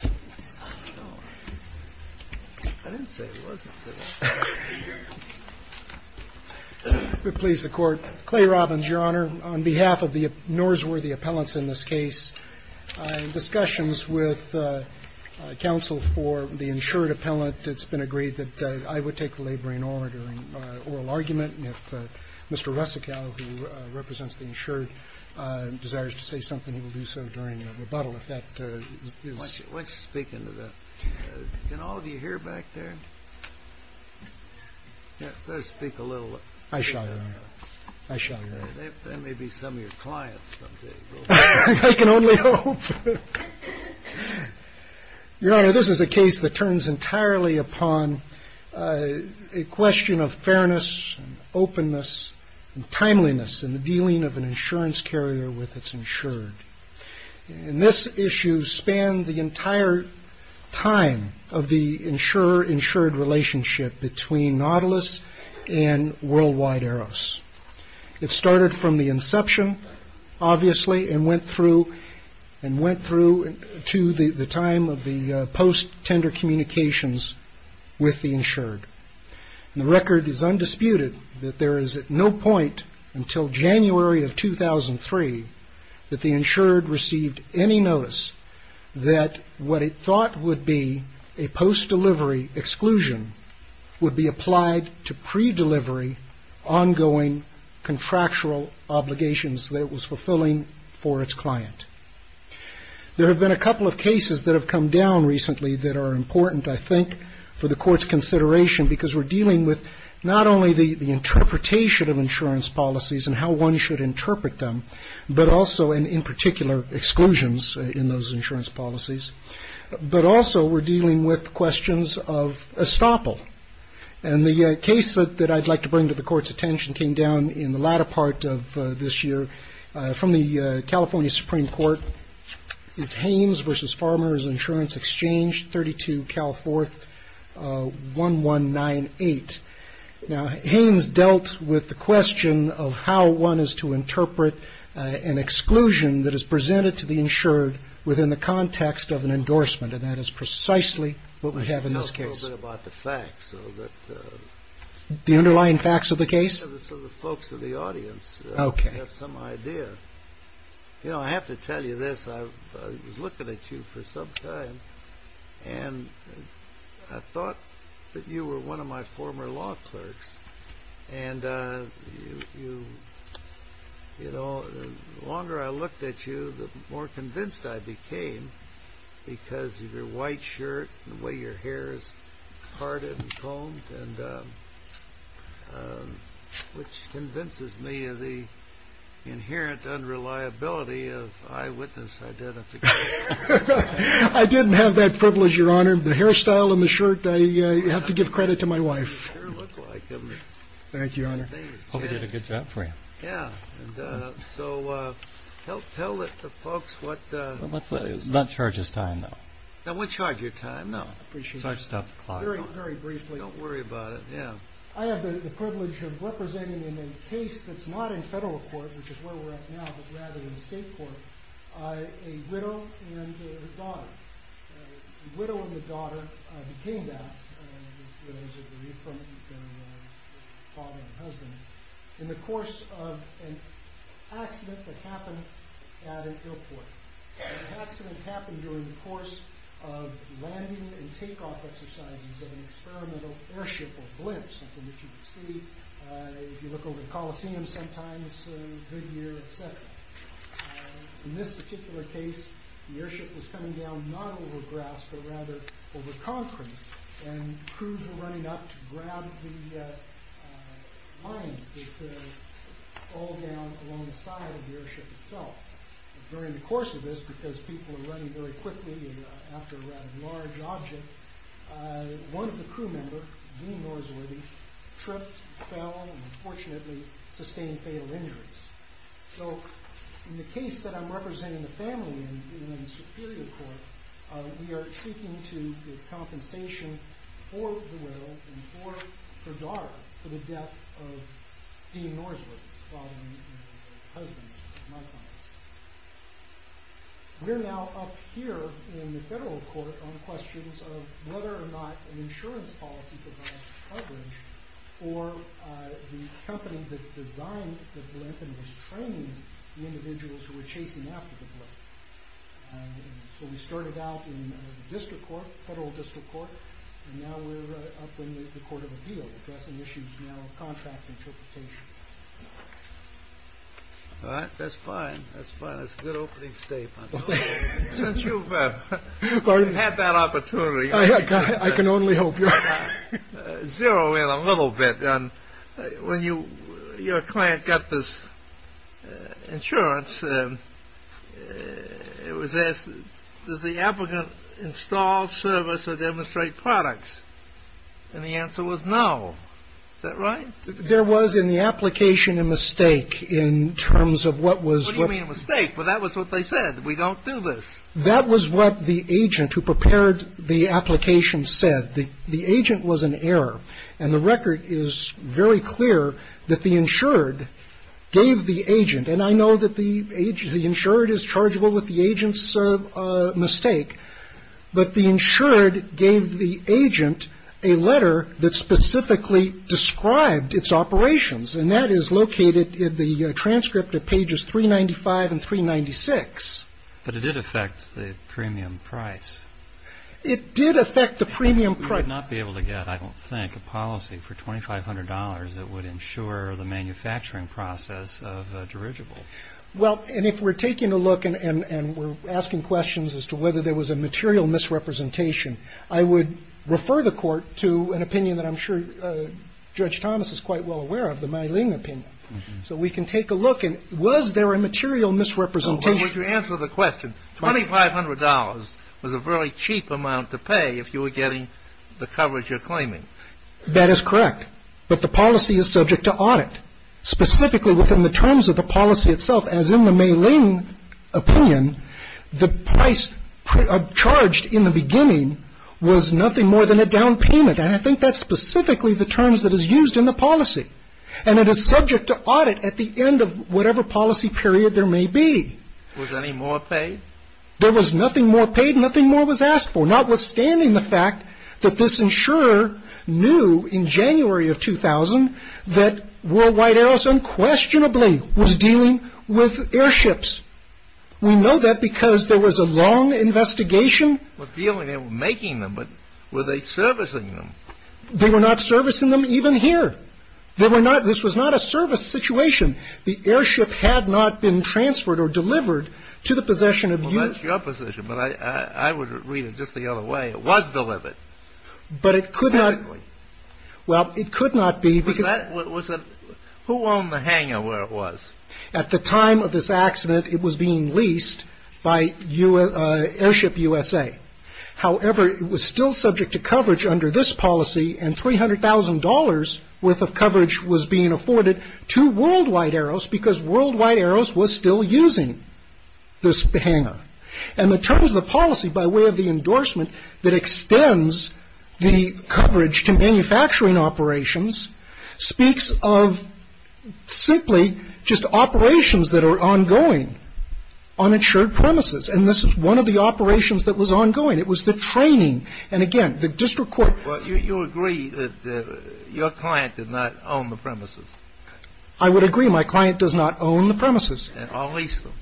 Appellants in this case, discussions with counsel for the insured appellant. It's been agreed that I would take the labor in order in oral argument. And if Mr. Russicow, who represents the insured, desires to say something, he will do so during rebuttal. If that is what you're speaking to that, you know, do you hear back there? Yeah, let's speak a little. I shall. I shall. That may be some of your clients. I can only hope. Your Honor, this is a case that turns entirely upon a question of fairness, openness and timeliness in the dealing of an insurance carrier with its insured. And this issue spanned the entire time of the insurer insured relationship between Nautilus and Worldwide Eros. It started from the inception, obviously, and went through and went through to the time of the post tender communications with the insured. The record is undisputed that there is no point until January of 2003 that the insured received any notice that what it thought would be a post delivery exclusion would be applied to pre-delivery ongoing contractual obligations that it was fulfilling for its client. There have been a couple of cases that have come down recently that are important, I think, for the court's consideration, because we're dealing with not only the interpretation of insurance policies and how one should interpret them, but also in particular exclusions in those insurance policies. But also we're dealing with questions of estoppel. And the case that I'd like to bring to the court's attention came down in the latter part of this year from the California Supreme Court is Haynes versus Farmer's Insurance Exchange, 32 Cal 4th 1198. Now, Haynes dealt with the question of how one is to interpret an exclusion that is presented to the insured within the context of an endorsement. And that is precisely what we have in this case about the facts of the underlying facts of the case of the folks in the audience. OK, some idea. You know, I have to tell you this. I was looking at you for some time and I thought that you were one of my former law clerks. And, you know, the longer I looked at you, the more convinced I became because of your white shirt, the way your hair is parted and combed and which convinces me of the inherent unreliability of eyewitness identification. I didn't have that privilege, Your Honor. The hairstyle and the shirt, I have to give credit to my wife. Thank you, Your Honor. Hope I did a good job for you. Yeah. So help tell the folks what. Let's not charge his time. Now, we charge your time. No, I just stopped the clock very, very briefly. Don't worry about it. Yeah, I have the privilege of representing in a case that's not in federal court, which is where we're at now, but rather in state court. A widow and her daughter, the widow and the daughter became that, as you can read from the father and the husband, in the course of an accident that happened at an airport. The accident happened during the course of landing and takeoff exercises of an experimental airship or blimp, something that you would see if you look over the Coliseum sometimes, mid-year, et cetera. In this particular case, the airship was coming down not over grass, but rather over concrete, and crews were running up to grab the lines that fall down along the side of the airship itself. During the course of this, because people were running very quickly after a rather large object, one of the crew member, Dean Norsworthy, tripped, fell, and unfortunately sustained fatal injuries. So, in the case that I'm representing the family in, in the Superior Court, we are speaking to the compensation for the widow and for her daughter for the death of Dean Norsworthy, father and husband, in my context. We're now up here in the Federal Court on questions of whether or not an insurance policy provides coverage for the company that designed the blimp and was training the individuals who were chasing after the blimp. So we started out in the District Court, Federal District Court, and now we're up in the Court of Appeal, addressing issues now of contract interpretation. All right, that's fine, that's fine, that's a good opening statement. Since you've had that opportunity, I can only hope you're not zeroing in a little bit. When your client got this insurance, it was asked, does the applicant install, service, or demonstrate products? And the answer was no. Is that right? There was, in the application, a mistake in terms of what was... What do you mean a mistake? Well, that was what they said. We don't do this. That was what the agent who prepared the application said. The agent was an error. And the record is very clear that the insured gave the agent, and I know that the insured is chargeable with the agent's mistake, but the insured gave the agent a letter that specifically described its operations. And that is located in the transcript at pages 395 and 396. But it did affect the premium price. It did affect the premium price. You would not be able to get, I don't think, a policy for $2,500 that would insure the manufacturing process of a dirigible. Well, and if we're taking a look and we're asking questions as to whether there was a material misrepresentation, I would refer the court to an opinion that I'm sure Judge Thomas is quite well aware of, the Meiling opinion. So we can take a look, and was there a material misrepresentation? No, but would you answer the question, $2,500 was a very cheap amount to pay if you were getting the coverage you're claiming. That is correct. But the policy is subject to audit. Specifically within the terms of the policy itself, as in the Meiling opinion, the price charged in the beginning was nothing more than a down payment, and I think that's specifically the terms that is used in the policy. And it is subject to audit at the end of whatever policy period there may be. Was any more paid? There was nothing more paid, nothing more was asked for, notwithstanding the fact that this insurer knew in January of 2000 that Worldwide Aeros unquestionably was dealing with airships. We know that because there was a long investigation. They were making them, but were they servicing them? They were not servicing them even here. This was not a service situation. The airship had not been transferred or delivered to the possession of you. That's your position, but I would read it just the other way. It was delivered. Well, it could not be. Who owned the hangar where it was? At the time of this accident, it was being leased by Airship USA. However, it was still subject to coverage under this policy, and $300,000 worth of coverage was being afforded to Worldwide Aeros because Worldwide Aeros was still using this hangar. And the terms of the policy by way of the endorsement that extends the coverage to manufacturing operations speaks of simply just operations that are ongoing on its shared premises, and this is one of the operations that was ongoing. It was the training, and again, the district court. Well, you agree that your client did not own the premises. I would agree. My client does not own the premises. I'll lease them.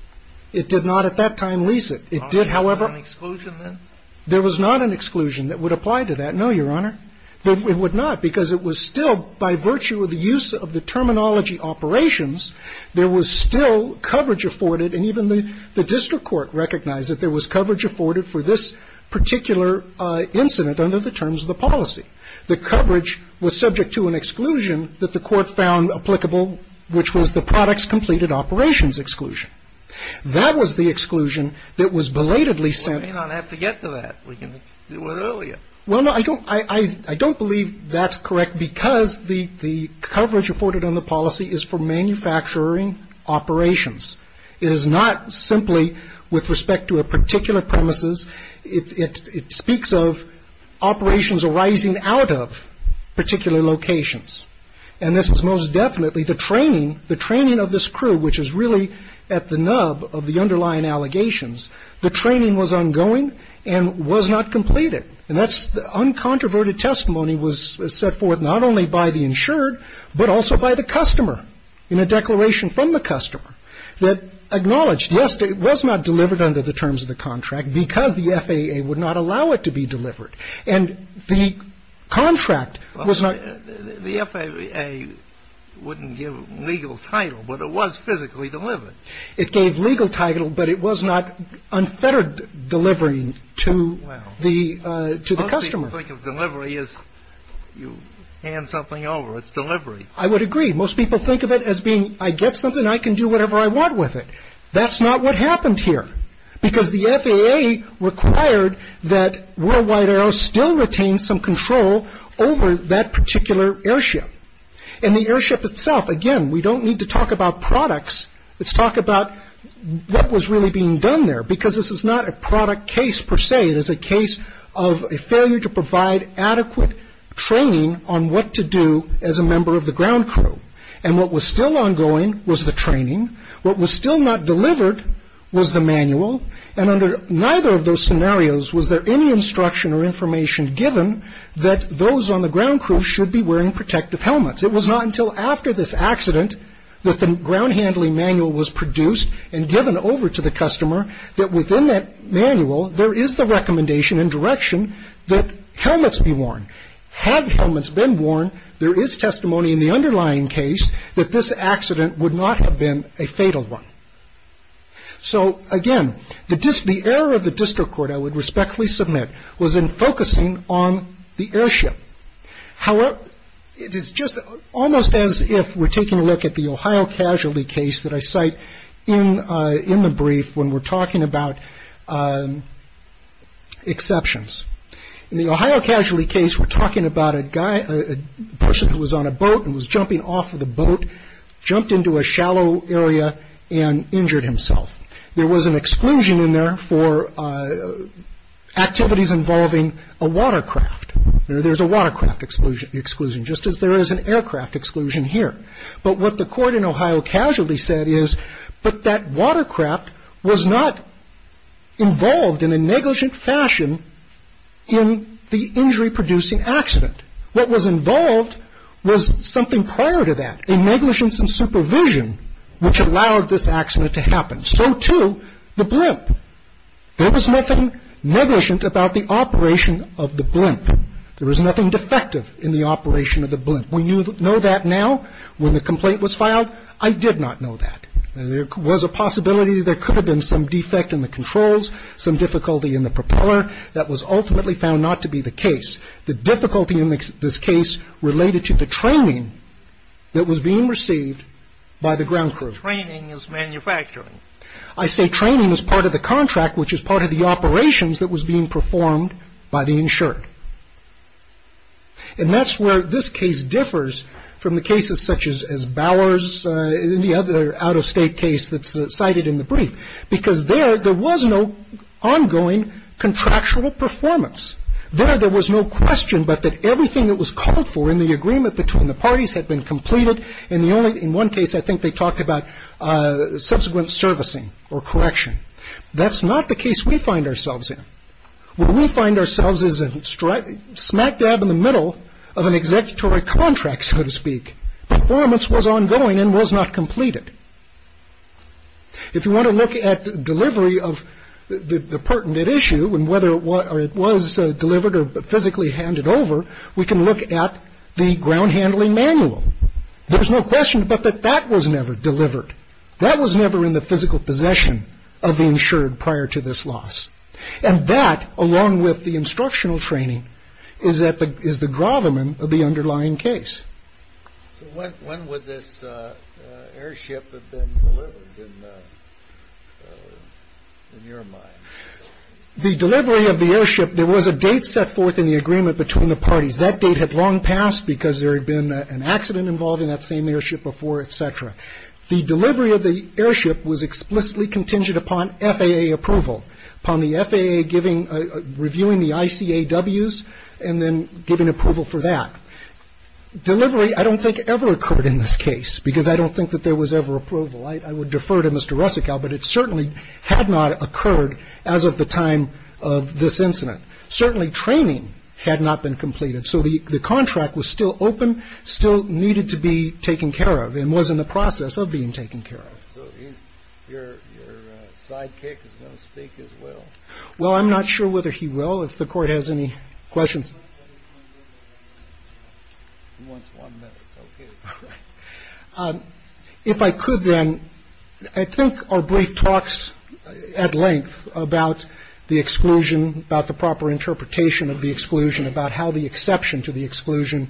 It did not at that time lease it. It did, however. Was there an exclusion then? There was not an exclusion that would apply to that. No, Your Honor. It would not because it was still by virtue of the use of the terminology operations, there was still coverage afforded, and even the district court recognized that there was coverage afforded for this particular incident under the terms of the policy. The coverage was subject to an exclusion that the court found applicable, which was the products completed operations exclusion. That was the exclusion that was belatedly sent. Well, we don't have to get to that. We can do it earlier. Well, no, I don't believe that's correct because the coverage afforded on the policy is for manufacturing operations. It is not simply with respect to a particular premises. It speaks of operations arising out of particular locations, and this is most definitely the training of this crew, which is really at the nub of the underlying allegations. The training was ongoing and was not completed, and that's the uncontroverted testimony was set forth not only by the insured, but also by the customer in a declaration from the customer that acknowledged, yes, it was not delivered under the terms of the contract because the FAA would not allow it to be delivered, and the contract was not. The FAA wouldn't give legal title, but it was physically delivered. It gave legal title, but it was not unfettered delivery to the customer. Most people think of delivery as you hand something over. It's delivery. I would agree. Most people think of it as being I get something, I can do whatever I want with it. That's not what happened here, because the FAA required that World Wide Aero still retain some control over that particular airship, and the airship itself, again, we don't need to talk about products. Let's talk about what was really being done there because this is not a product case per se. It is a case of a failure to provide adequate training on what to do as a member of the ground crew, and what was still ongoing was the training. What was still not delivered was the manual, and under neither of those scenarios was there any instruction or information given that those on the ground crew should be wearing protective helmets. It was not until after this accident that the ground handling manual was produced and given over to the customer that within that manual, there is the recommendation and direction that helmets be worn. Had helmets been worn, there is testimony in the underlying case that this accident would not have been a fatal one. So, again, the error of the district court I would respectfully submit was in focusing on the airship. However, it is just almost as if we're taking a look at the Ohio casualty case that I cite in the brief when we're talking about exceptions. In the Ohio casualty case, we're talking about a person who was on a boat and was jumping off of the boat, jumped into a shallow area, and injured himself. There was an exclusion in there for activities involving a watercraft. There's a watercraft exclusion, just as there is an aircraft exclusion here. But what the court in Ohio casualty said is, But that watercraft was not involved in a negligent fashion in the injury-producing accident. What was involved was something prior to that, a negligence in supervision, which allowed this accident to happen. So, too, the blimp. There was nothing negligent about the operation of the blimp. There was nothing defective in the operation of the blimp. We know that now. When the complaint was filed, I did not know that. There was a possibility there could have been some defect in the controls, some difficulty in the propeller that was ultimately found not to be the case. The difficulty in this case related to the training that was being received by the ground crew. Training is manufacturing. I say training is part of the contract, which is part of the operations that was being performed by the insured. And that's where this case differs from the cases such as Bowers, the other out-of-state case that's cited in the brief, because there was no ongoing contractual performance. There, there was no question but that everything that was called for in the agreement between the parties had been completed. And the only in one case, I think they talked about subsequent servicing or correction. That's not the case we find ourselves in. What we find ourselves is a smack dab in the middle of an executory contract, so to speak. Performance was ongoing and was not completed. If you want to look at delivery of the pertinent issue and whether it was delivered or physically handed over, we can look at the ground handling manual. There's no question but that that was never delivered. That was never in the physical possession of the insured prior to this loss. And that, along with the instructional training, is that is the gravamen of the underlying case. So when would this airship have been delivered in your mind? The delivery of the airship, there was a date set forth in the agreement between the parties. That date had long passed because there had been an accident involved in that same airship before, et cetera. The delivery of the airship was explicitly contingent upon FAA approval, upon the FAA reviewing the ICAWs and then giving approval for that. Delivery I don't think ever occurred in this case because I don't think that there was ever approval. I would defer to Mr. Russicow, but it certainly had not occurred as of the time of this incident. Certainly training had not been completed, so the contract was still open, still needed to be taken care of and was in the process of being taken care of. Your sidekick is going to speak as well. Well, I'm not sure whether he will. If the court has any questions. If I could, then I think our brief talks at length about the exclusion, about the proper interpretation of the exclusion, about how the exception to the exclusion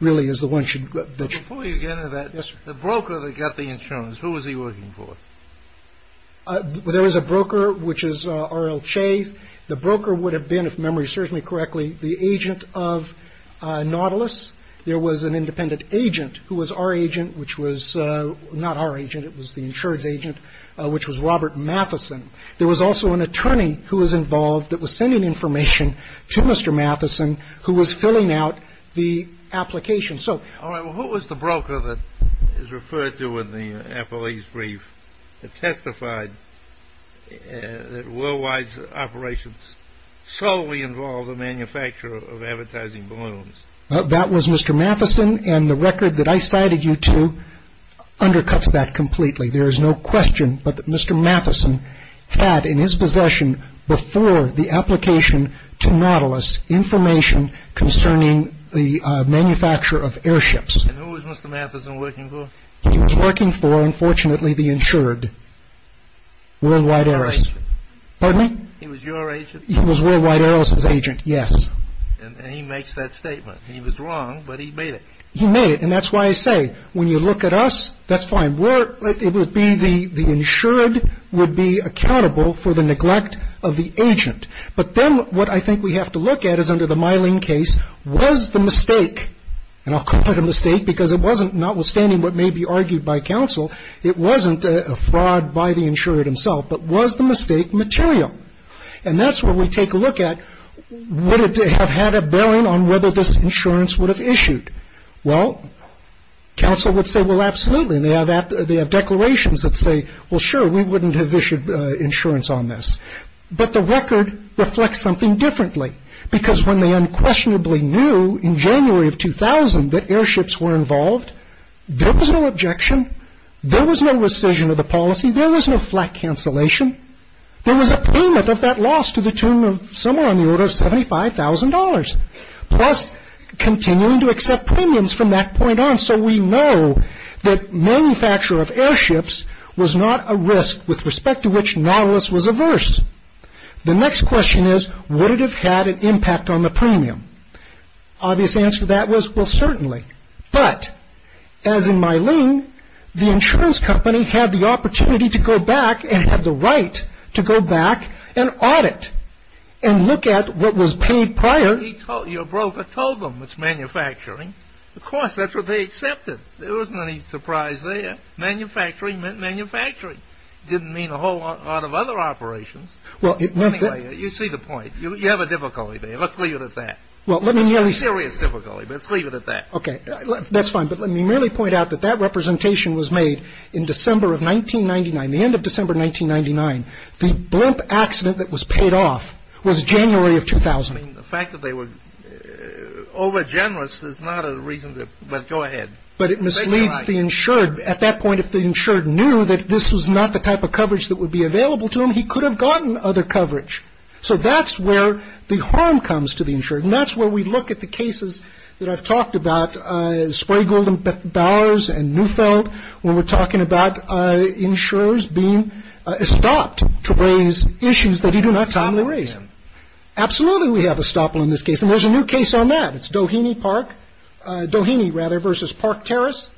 really is the one that should. Before you get into that, the broker that got the insurance, who was he working for? There was a broker, which is R.L. Chase. The broker would have been, if memory serves me correctly, the agent of Nautilus. There was an independent agent who was our agent, which was not our agent. It was the insurance agent, which was Robert Matheson. There was also an attorney who was involved that was sending information to Mr. Matheson, who was filling out the application. All right, well, who was the broker that is referred to in the appellee's brief that testified that Worldwide's operations solely involved the manufacture of advertising balloons? That was Mr. Matheson, and the record that I cited you to undercuts that completely. There is no question but that Mr. Matheson had in his possession before the application to Nautilus information concerning the manufacture of airships. And who was Mr. Matheson working for? He was working for, unfortunately, the insured Worldwide Airways. Pardon me? He was your agent? He was Worldwide Airways' agent, yes. And he makes that statement. He was wrong, but he made it. He made it, and that's why I say, when you look at us, that's fine. It would be the insured would be accountable for the neglect of the agent. But then what I think we have to look at is, under the Myling case, was the mistake, and I'll call it a mistake because it wasn't, notwithstanding what may be argued by counsel, it wasn't a fraud by the insured himself, but was the mistake material? And that's where we take a look at, would it have had a bearing on whether this insurance would have issued? Well, counsel would say, well, absolutely, and they have declarations that say, well, sure, we wouldn't have issued insurance on this. But the record reflects something differently, because when they unquestionably knew in January of 2000 that airships were involved, there was no objection. There was no rescission of the policy. There was no flight cancellation. There was a payment of that loss to the tune of somewhere on the order of $75,000, plus continuing to accept premiums from that point on. So we know that manufacture of airships was not a risk with respect to which Nautilus was averse. The next question is, would it have had an impact on the premium? Obvious answer to that was, well, certainly. But as in Myling, the insurance company had the opportunity to go back and had the right to go back and audit and look at what was paid prior. Your broker told them it's manufacturing. Of course, that's what they accepted. There wasn't any surprise there. Manufacturing meant manufacturing. It didn't mean a whole lot of other operations. Anyway, you see the point. You have a difficulty there. Let's leave it at that. Well, let me merely say. It's a serious difficulty, but let's leave it at that. Okay, that's fine, but let me merely point out that that representation was made in December of 1999. The end of December 1999. The blimp accident that was paid off was January of 2000. The fact that they were over generous is not a reason to go ahead. But it misleads the insured. At that point, if the insured knew that this was not the type of coverage that would be available to him, he could have gotten other coverage. So that's where the harm comes to the insured. And that's where we look at the cases that I've talked about, Sprague, Golden, Bowers and Neufeld. When we're talking about insurers being stopped to raise issues that you do not timely raise. Absolutely. We have a stop on this case. And there's a new case on that. It's Doheny Park. Doheny rather versus Park Terrace.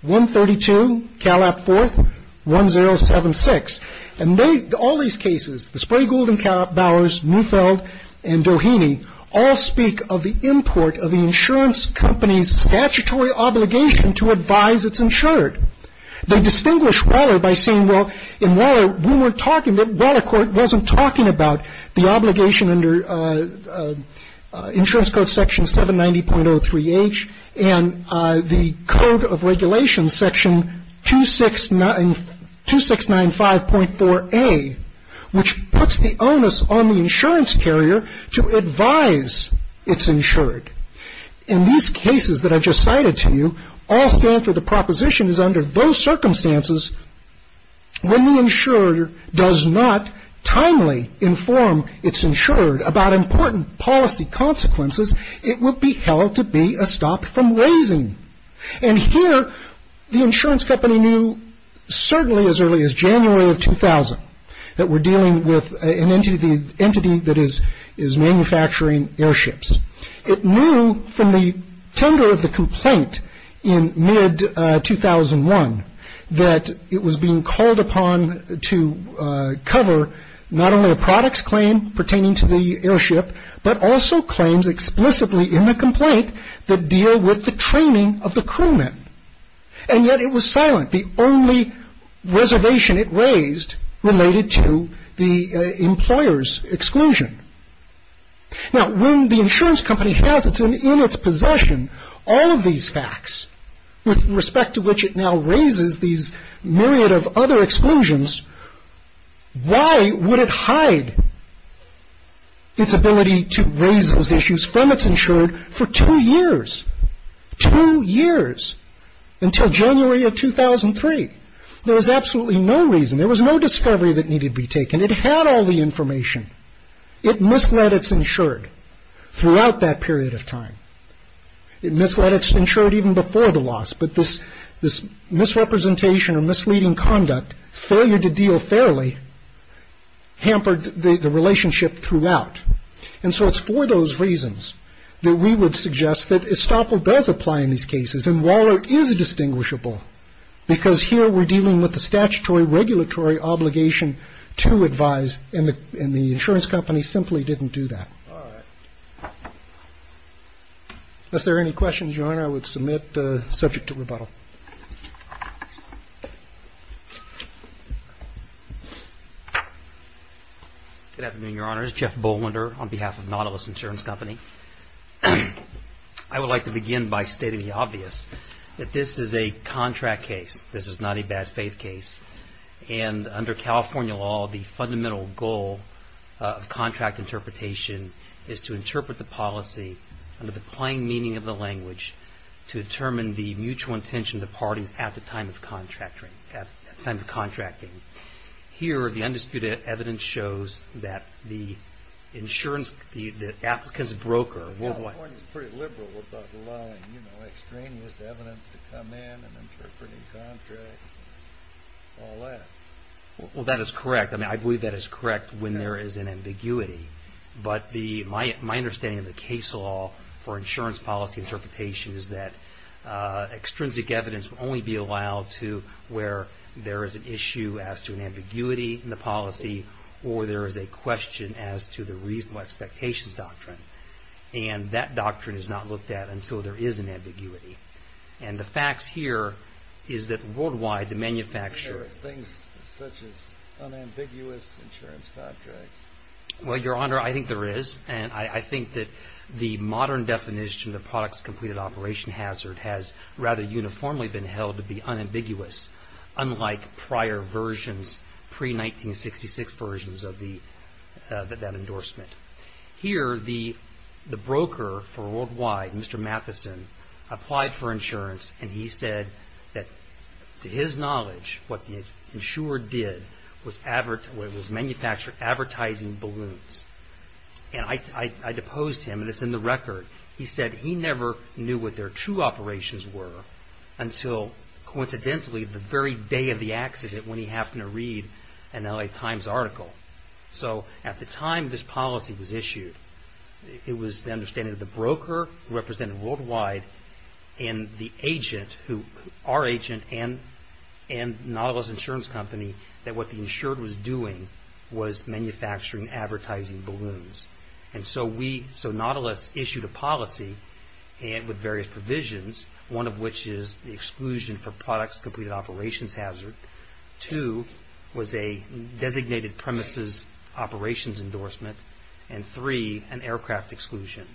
One thirty two. Calab fourth. One zero seven six. And they all these cases, the Sprague, Golden, Bowers, Neufeld and Doheny, all speak of the import of the insurance company's statutory obligation to advise it's insured. They distinguish Waller by saying, well, in Waller, we were talking that Waller court wasn't talking about the obligation under insurance code section seven ninety point oh three H. And the code of regulation section two six nine two six nine five point four A, which puts the onus on the insurance carrier to advise it's insured. And these cases that I just cited to you all stand for the proposition is under those circumstances. When the insurer does not timely inform it's insured about important policy consequences, it would be held to be a stop from raising. And here the insurance company knew certainly as early as January of 2000 that we're dealing with an entity, the entity that is is manufacturing airships. It knew from the tender of the complaint in mid 2001 that it was being called upon to cover not only a product's claim pertaining to the airship, but also claims explicitly in the complaint that deal with the training of the crewman. And yet it was silent. The only reservation it raised related to the employer's exclusion. Now, when the insurance company has it in its possession, all of these facts with respect to which it now raises these myriad of other exclusions. Why would it hide its ability to raise those issues from it's insured for two years, two years until January of 2003? There was absolutely no reason. There was no discovery that needed to be taken. It had all the information. It misled it's insured throughout that period of time. It misled it's insured even before the loss. But this this misrepresentation or misleading conduct, failure to deal fairly hampered the relationship throughout. And so it's for those reasons that we would suggest that Estoppel does apply in these cases. And Waller is distinguishable because here we're dealing with the statutory regulatory obligation to advise. And the insurance company simply didn't do that. All right. Is there any questions, your honor, I would submit subject to rebuttal. Good afternoon, your honors. Jeff Bolander on behalf of Nautilus Insurance Company. I would like to begin by stating the obvious that this is a contract case. This is not a bad faith case. And under California law, the fundamental goal of contract interpretation is to interpret the policy under the plain meaning of the language to determine the mutual intention of the parties at the time of contracting. Here the undisputed evidence shows that the insurance, the applicant's broker. California is pretty liberal about allowing extraneous evidence to come in and interpreting contracts and all that. Well, that is correct. I mean, I believe that is correct when there is an ambiguity. But my understanding of the case law for insurance policy interpretation is that extrinsic evidence will only be allowed to where there is an issue as to an ambiguity in the policy or there is a question as to the reasonable expectations doctrine. And that doctrine is not looked at until there is an ambiguity. And the facts here is that worldwide the manufacturer. Things such as unambiguous insurance contracts. Well, your honor, I think there is. And I think that the modern definition of products completed operation hazard has rather uniformly been held to be unambiguous. Unlike prior versions, pre-1966 versions of that endorsement. Here the broker for worldwide, Mr. Matheson, applied for insurance and he said that to his knowledge what the insurer did was manufacture advertising balloons. And I deposed him and it is in the record. He said he never knew what their true operations were until coincidentally the very day of the accident when he happened to read an L.A. Times article. So at the time this policy was issued, it was the understanding of the broker represented worldwide and our agent and Nautilus Insurance Company that what the insurer was doing was manufacturing advertising balloons. And so we, so Nautilus issued a policy with various provisions. One of which is the exclusion for products completed operations hazard. Two was a designated premises operations endorsement. And three, an aircraft exclusion.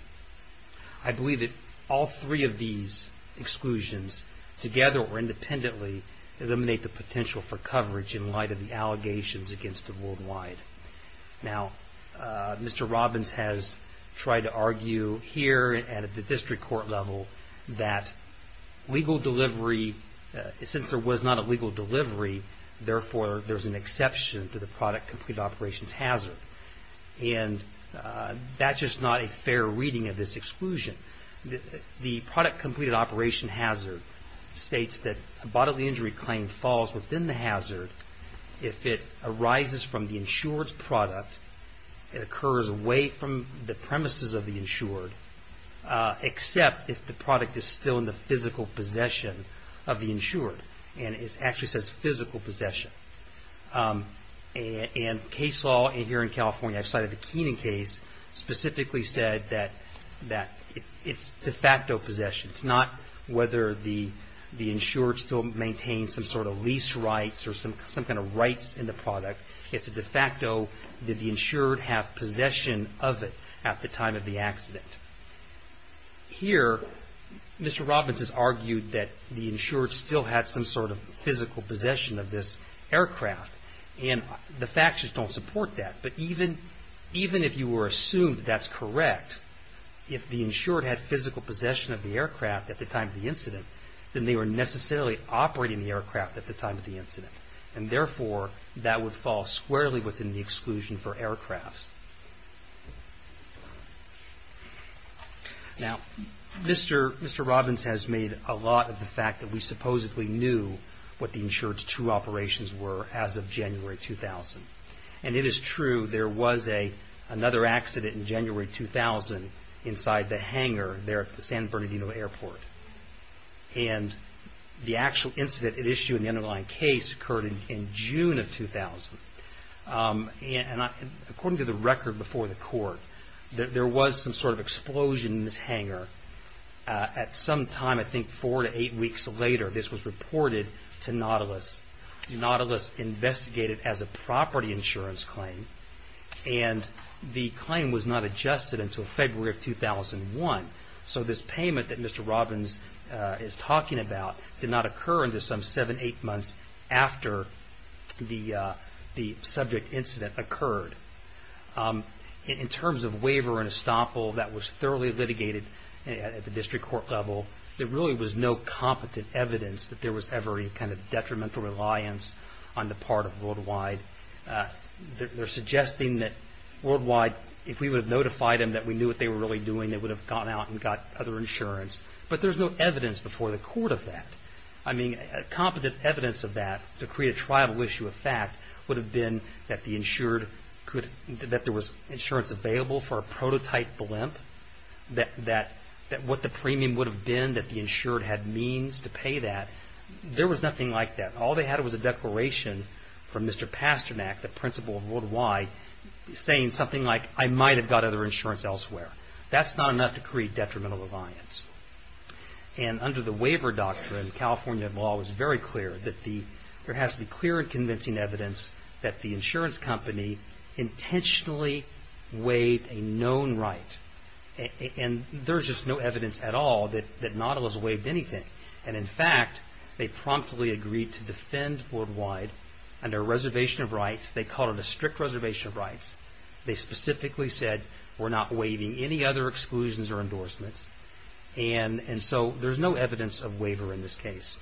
I believe that all three of these exclusions together or independently eliminate the potential for coverage in light of the allegations against the worldwide. Now, Mr. Robbins has tried to argue here and at the district court level that legal delivery, since there was not a legal delivery, therefore there's an exception to the product completed operations hazard. And that's just not a fair reading of this exclusion. The product completed operation hazard states that a bodily injury claim falls within the hazard if it arises from the insured's product, it occurs away from the premises of the insured, except if the product is still in the physical possession of the insured. And it actually says physical possession. And case law here in California, I cited the Keenan case, specifically said that it's de facto possession. It's not whether the insured still maintains some sort of lease rights or some kind of rights in the product. It's a de facto, did the insured have possession of it at the time of the accident? Here, Mr. Robbins has argued that the insured still had some sort of physical possession of this aircraft. And the facts just don't support that. But even if you were assumed that that's correct, if the insured had physical possession of the aircraft at the time of the incident, then they were necessarily operating the aircraft at the time of the incident. And therefore, that would fall squarely within the exclusion for aircrafts. Now, Mr. Robbins has made a lot of the fact that we supposedly knew what the insured's true operations were as of January 2000. And it is true there was another accident in January 2000 inside the hangar there at the San Bernardino Airport. And the actual incident at issue in the underlying case occurred in June of 2000. And according to the record before the court, there was some sort of explosion in this hangar. At some time, I think four to eight weeks later, this was reported to Nautilus. Nautilus investigated as a property insurance claim. And the claim was not adjusted until February of 2001. So this payment that Mr. Robbins is talking about did not occur until some seven, eight months after the subject incident occurred. In terms of waiver and estoppel, that was thoroughly litigated at the district court level. There really was no competent evidence that there was ever any kind of detrimental reliance on the part of Worldwide. They're suggesting that Worldwide, if we would have notified them that we knew what they were really doing, they would have gone out and got other insurance. But there's no evidence before the court of that. I mean, competent evidence of that to create a trial issue of fact would have been that the insured could – that what the premium would have been that the insured had means to pay that. There was nothing like that. All they had was a declaration from Mr. Pasternak, the principal of Worldwide, saying something like, I might have got other insurance elsewhere. That's not enough to create detrimental reliance. And under the waiver doctrine, California law was very clear that the – And there's just no evidence at all that Nautilus waived anything. And in fact, they promptly agreed to defend Worldwide under a reservation of rights. They called it a strict reservation of rights. They specifically said, we're not waiving any other exclusions or endorsements. And so there's no evidence of waiver in this case.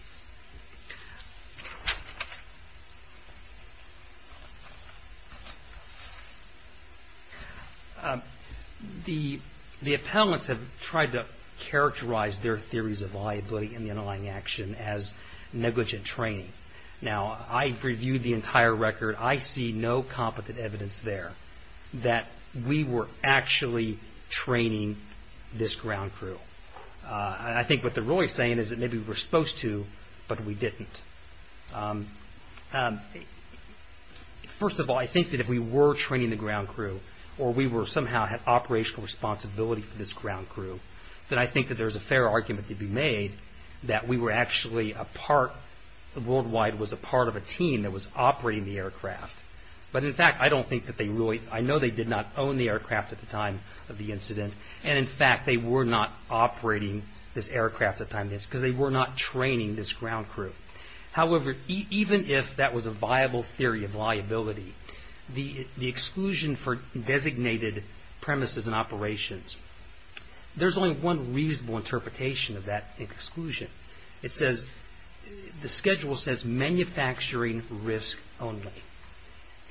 The appellants have tried to characterize their theories of liability in the underlying action as negligent training. Now, I've reviewed the entire record. I see no competent evidence there that we were actually training this ground crew. And I think what they're really saying is that maybe we were supposed to, but we didn't. First of all, I think that if we were training the ground crew, or we somehow had operational responsibility for this ground crew, then I think that there's a fair argument to be made that we were actually a part – Worldwide was a part of a team that was operating the aircraft. But in fact, I don't think that they really – I know they did not own the aircraft at the time of the incident. And in fact, they were not operating this aircraft at the time of the incident, because they were not training this ground crew. However, even if that was a viable theory of liability, the exclusion for designated premises and operations, there's only one reasonable interpretation of that exclusion. It says – the schedule says manufacturing risk only.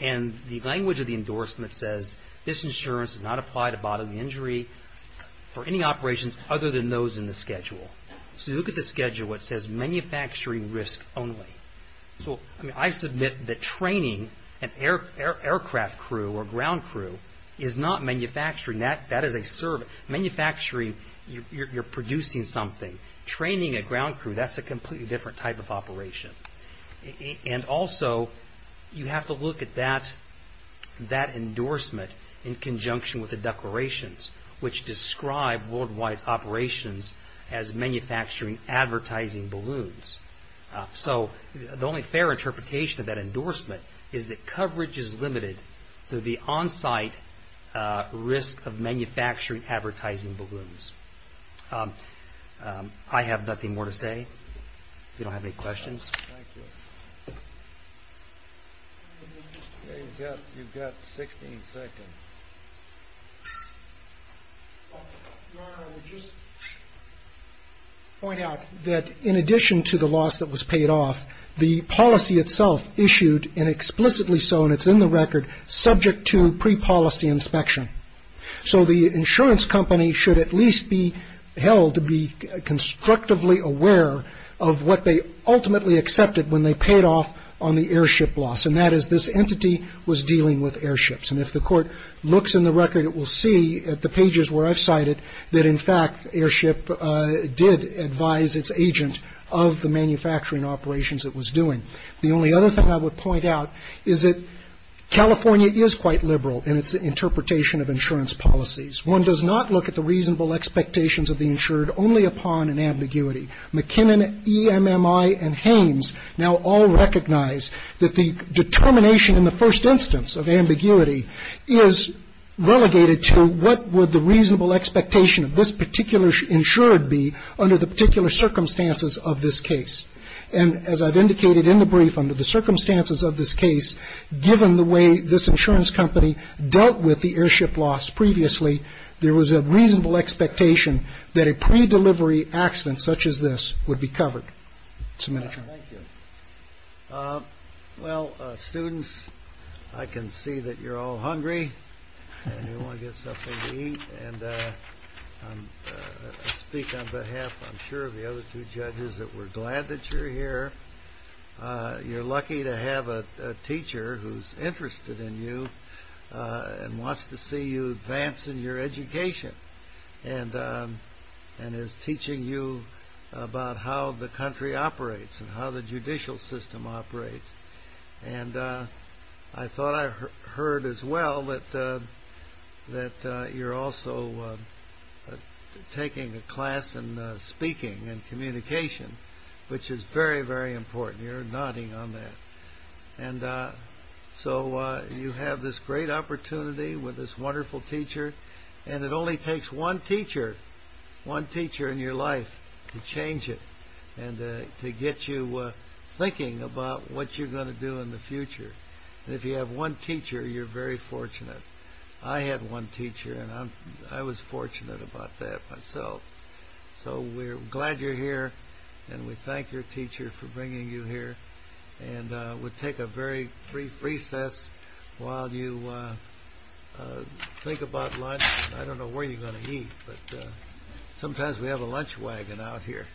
And the language of the endorsement says, this insurance does not apply to bodily injury for any operations other than those in the schedule. So you look at the schedule, it says manufacturing risk only. So I submit that training an aircraft crew or ground crew is not manufacturing. That is a – manufacturing, you're producing something. Training a ground crew, that's a completely different type of operation. And also, you have to look at that endorsement in conjunction with the declarations, which describe Worldwide's operations as manufacturing advertising balloons. So the only fair interpretation of that endorsement is that coverage is limited to the on-site risk of manufacturing advertising balloons. I have nothing more to say. If you don't have any questions. Thank you. You've got 16 seconds. Your Honor, I would just point out that in addition to the loss that was paid off, the policy itself issued, and explicitly so, and it's in the record, subject to pre-policy inspection. So the insurance company should at least be held to be constructively aware of what they ultimately accepted when they paid off on the airship loss, and that is this entity was dealing with airships. And if the Court looks in the record, it will see at the pages where I've cited that in fact airship did advise its agent of the manufacturing operations it was doing. The only other thing I would point out is that California is quite liberal in its interpretation of insurance policies. One does not look at the reasonable expectations of the insured only upon an ambiguity. McKinnon, EMMI, and Hames now all recognize that the determination in the first instance of ambiguity is relegated to what would the reasonable expectation of this particular insured be under the particular circumstances of this case. And as I've indicated in the brief, under the circumstances of this case, given the way this insurance company dealt with the airship loss previously, there was a reasonable expectation that a pre-delivery accident such as this would be covered. Thank you. Well, students, I can see that you're all hungry and you want to get something to eat. And I speak on behalf, I'm sure, of the other two judges that we're glad that you're here. You're lucky to have a teacher who's interested in you and wants to see you advance in your education and is teaching you about how the country operates and how the judicial system operates. And I thought I heard as well that you're also taking a class in speaking and communication, which is very, very important. You're nodding on that. And so you have this great opportunity with this wonderful teacher, and it only takes one teacher, one teacher in your life, to change it and to get you thinking about what you're going to do in the future. And if you have one teacher, you're very fortunate. I had one teacher, and I was fortunate about that myself. So we're glad you're here, and we thank your teacher for bringing you here. And we'll take a very brief recess while you think about lunch. I don't know where you're going to eat, but sometimes we have a lunch wagon out here.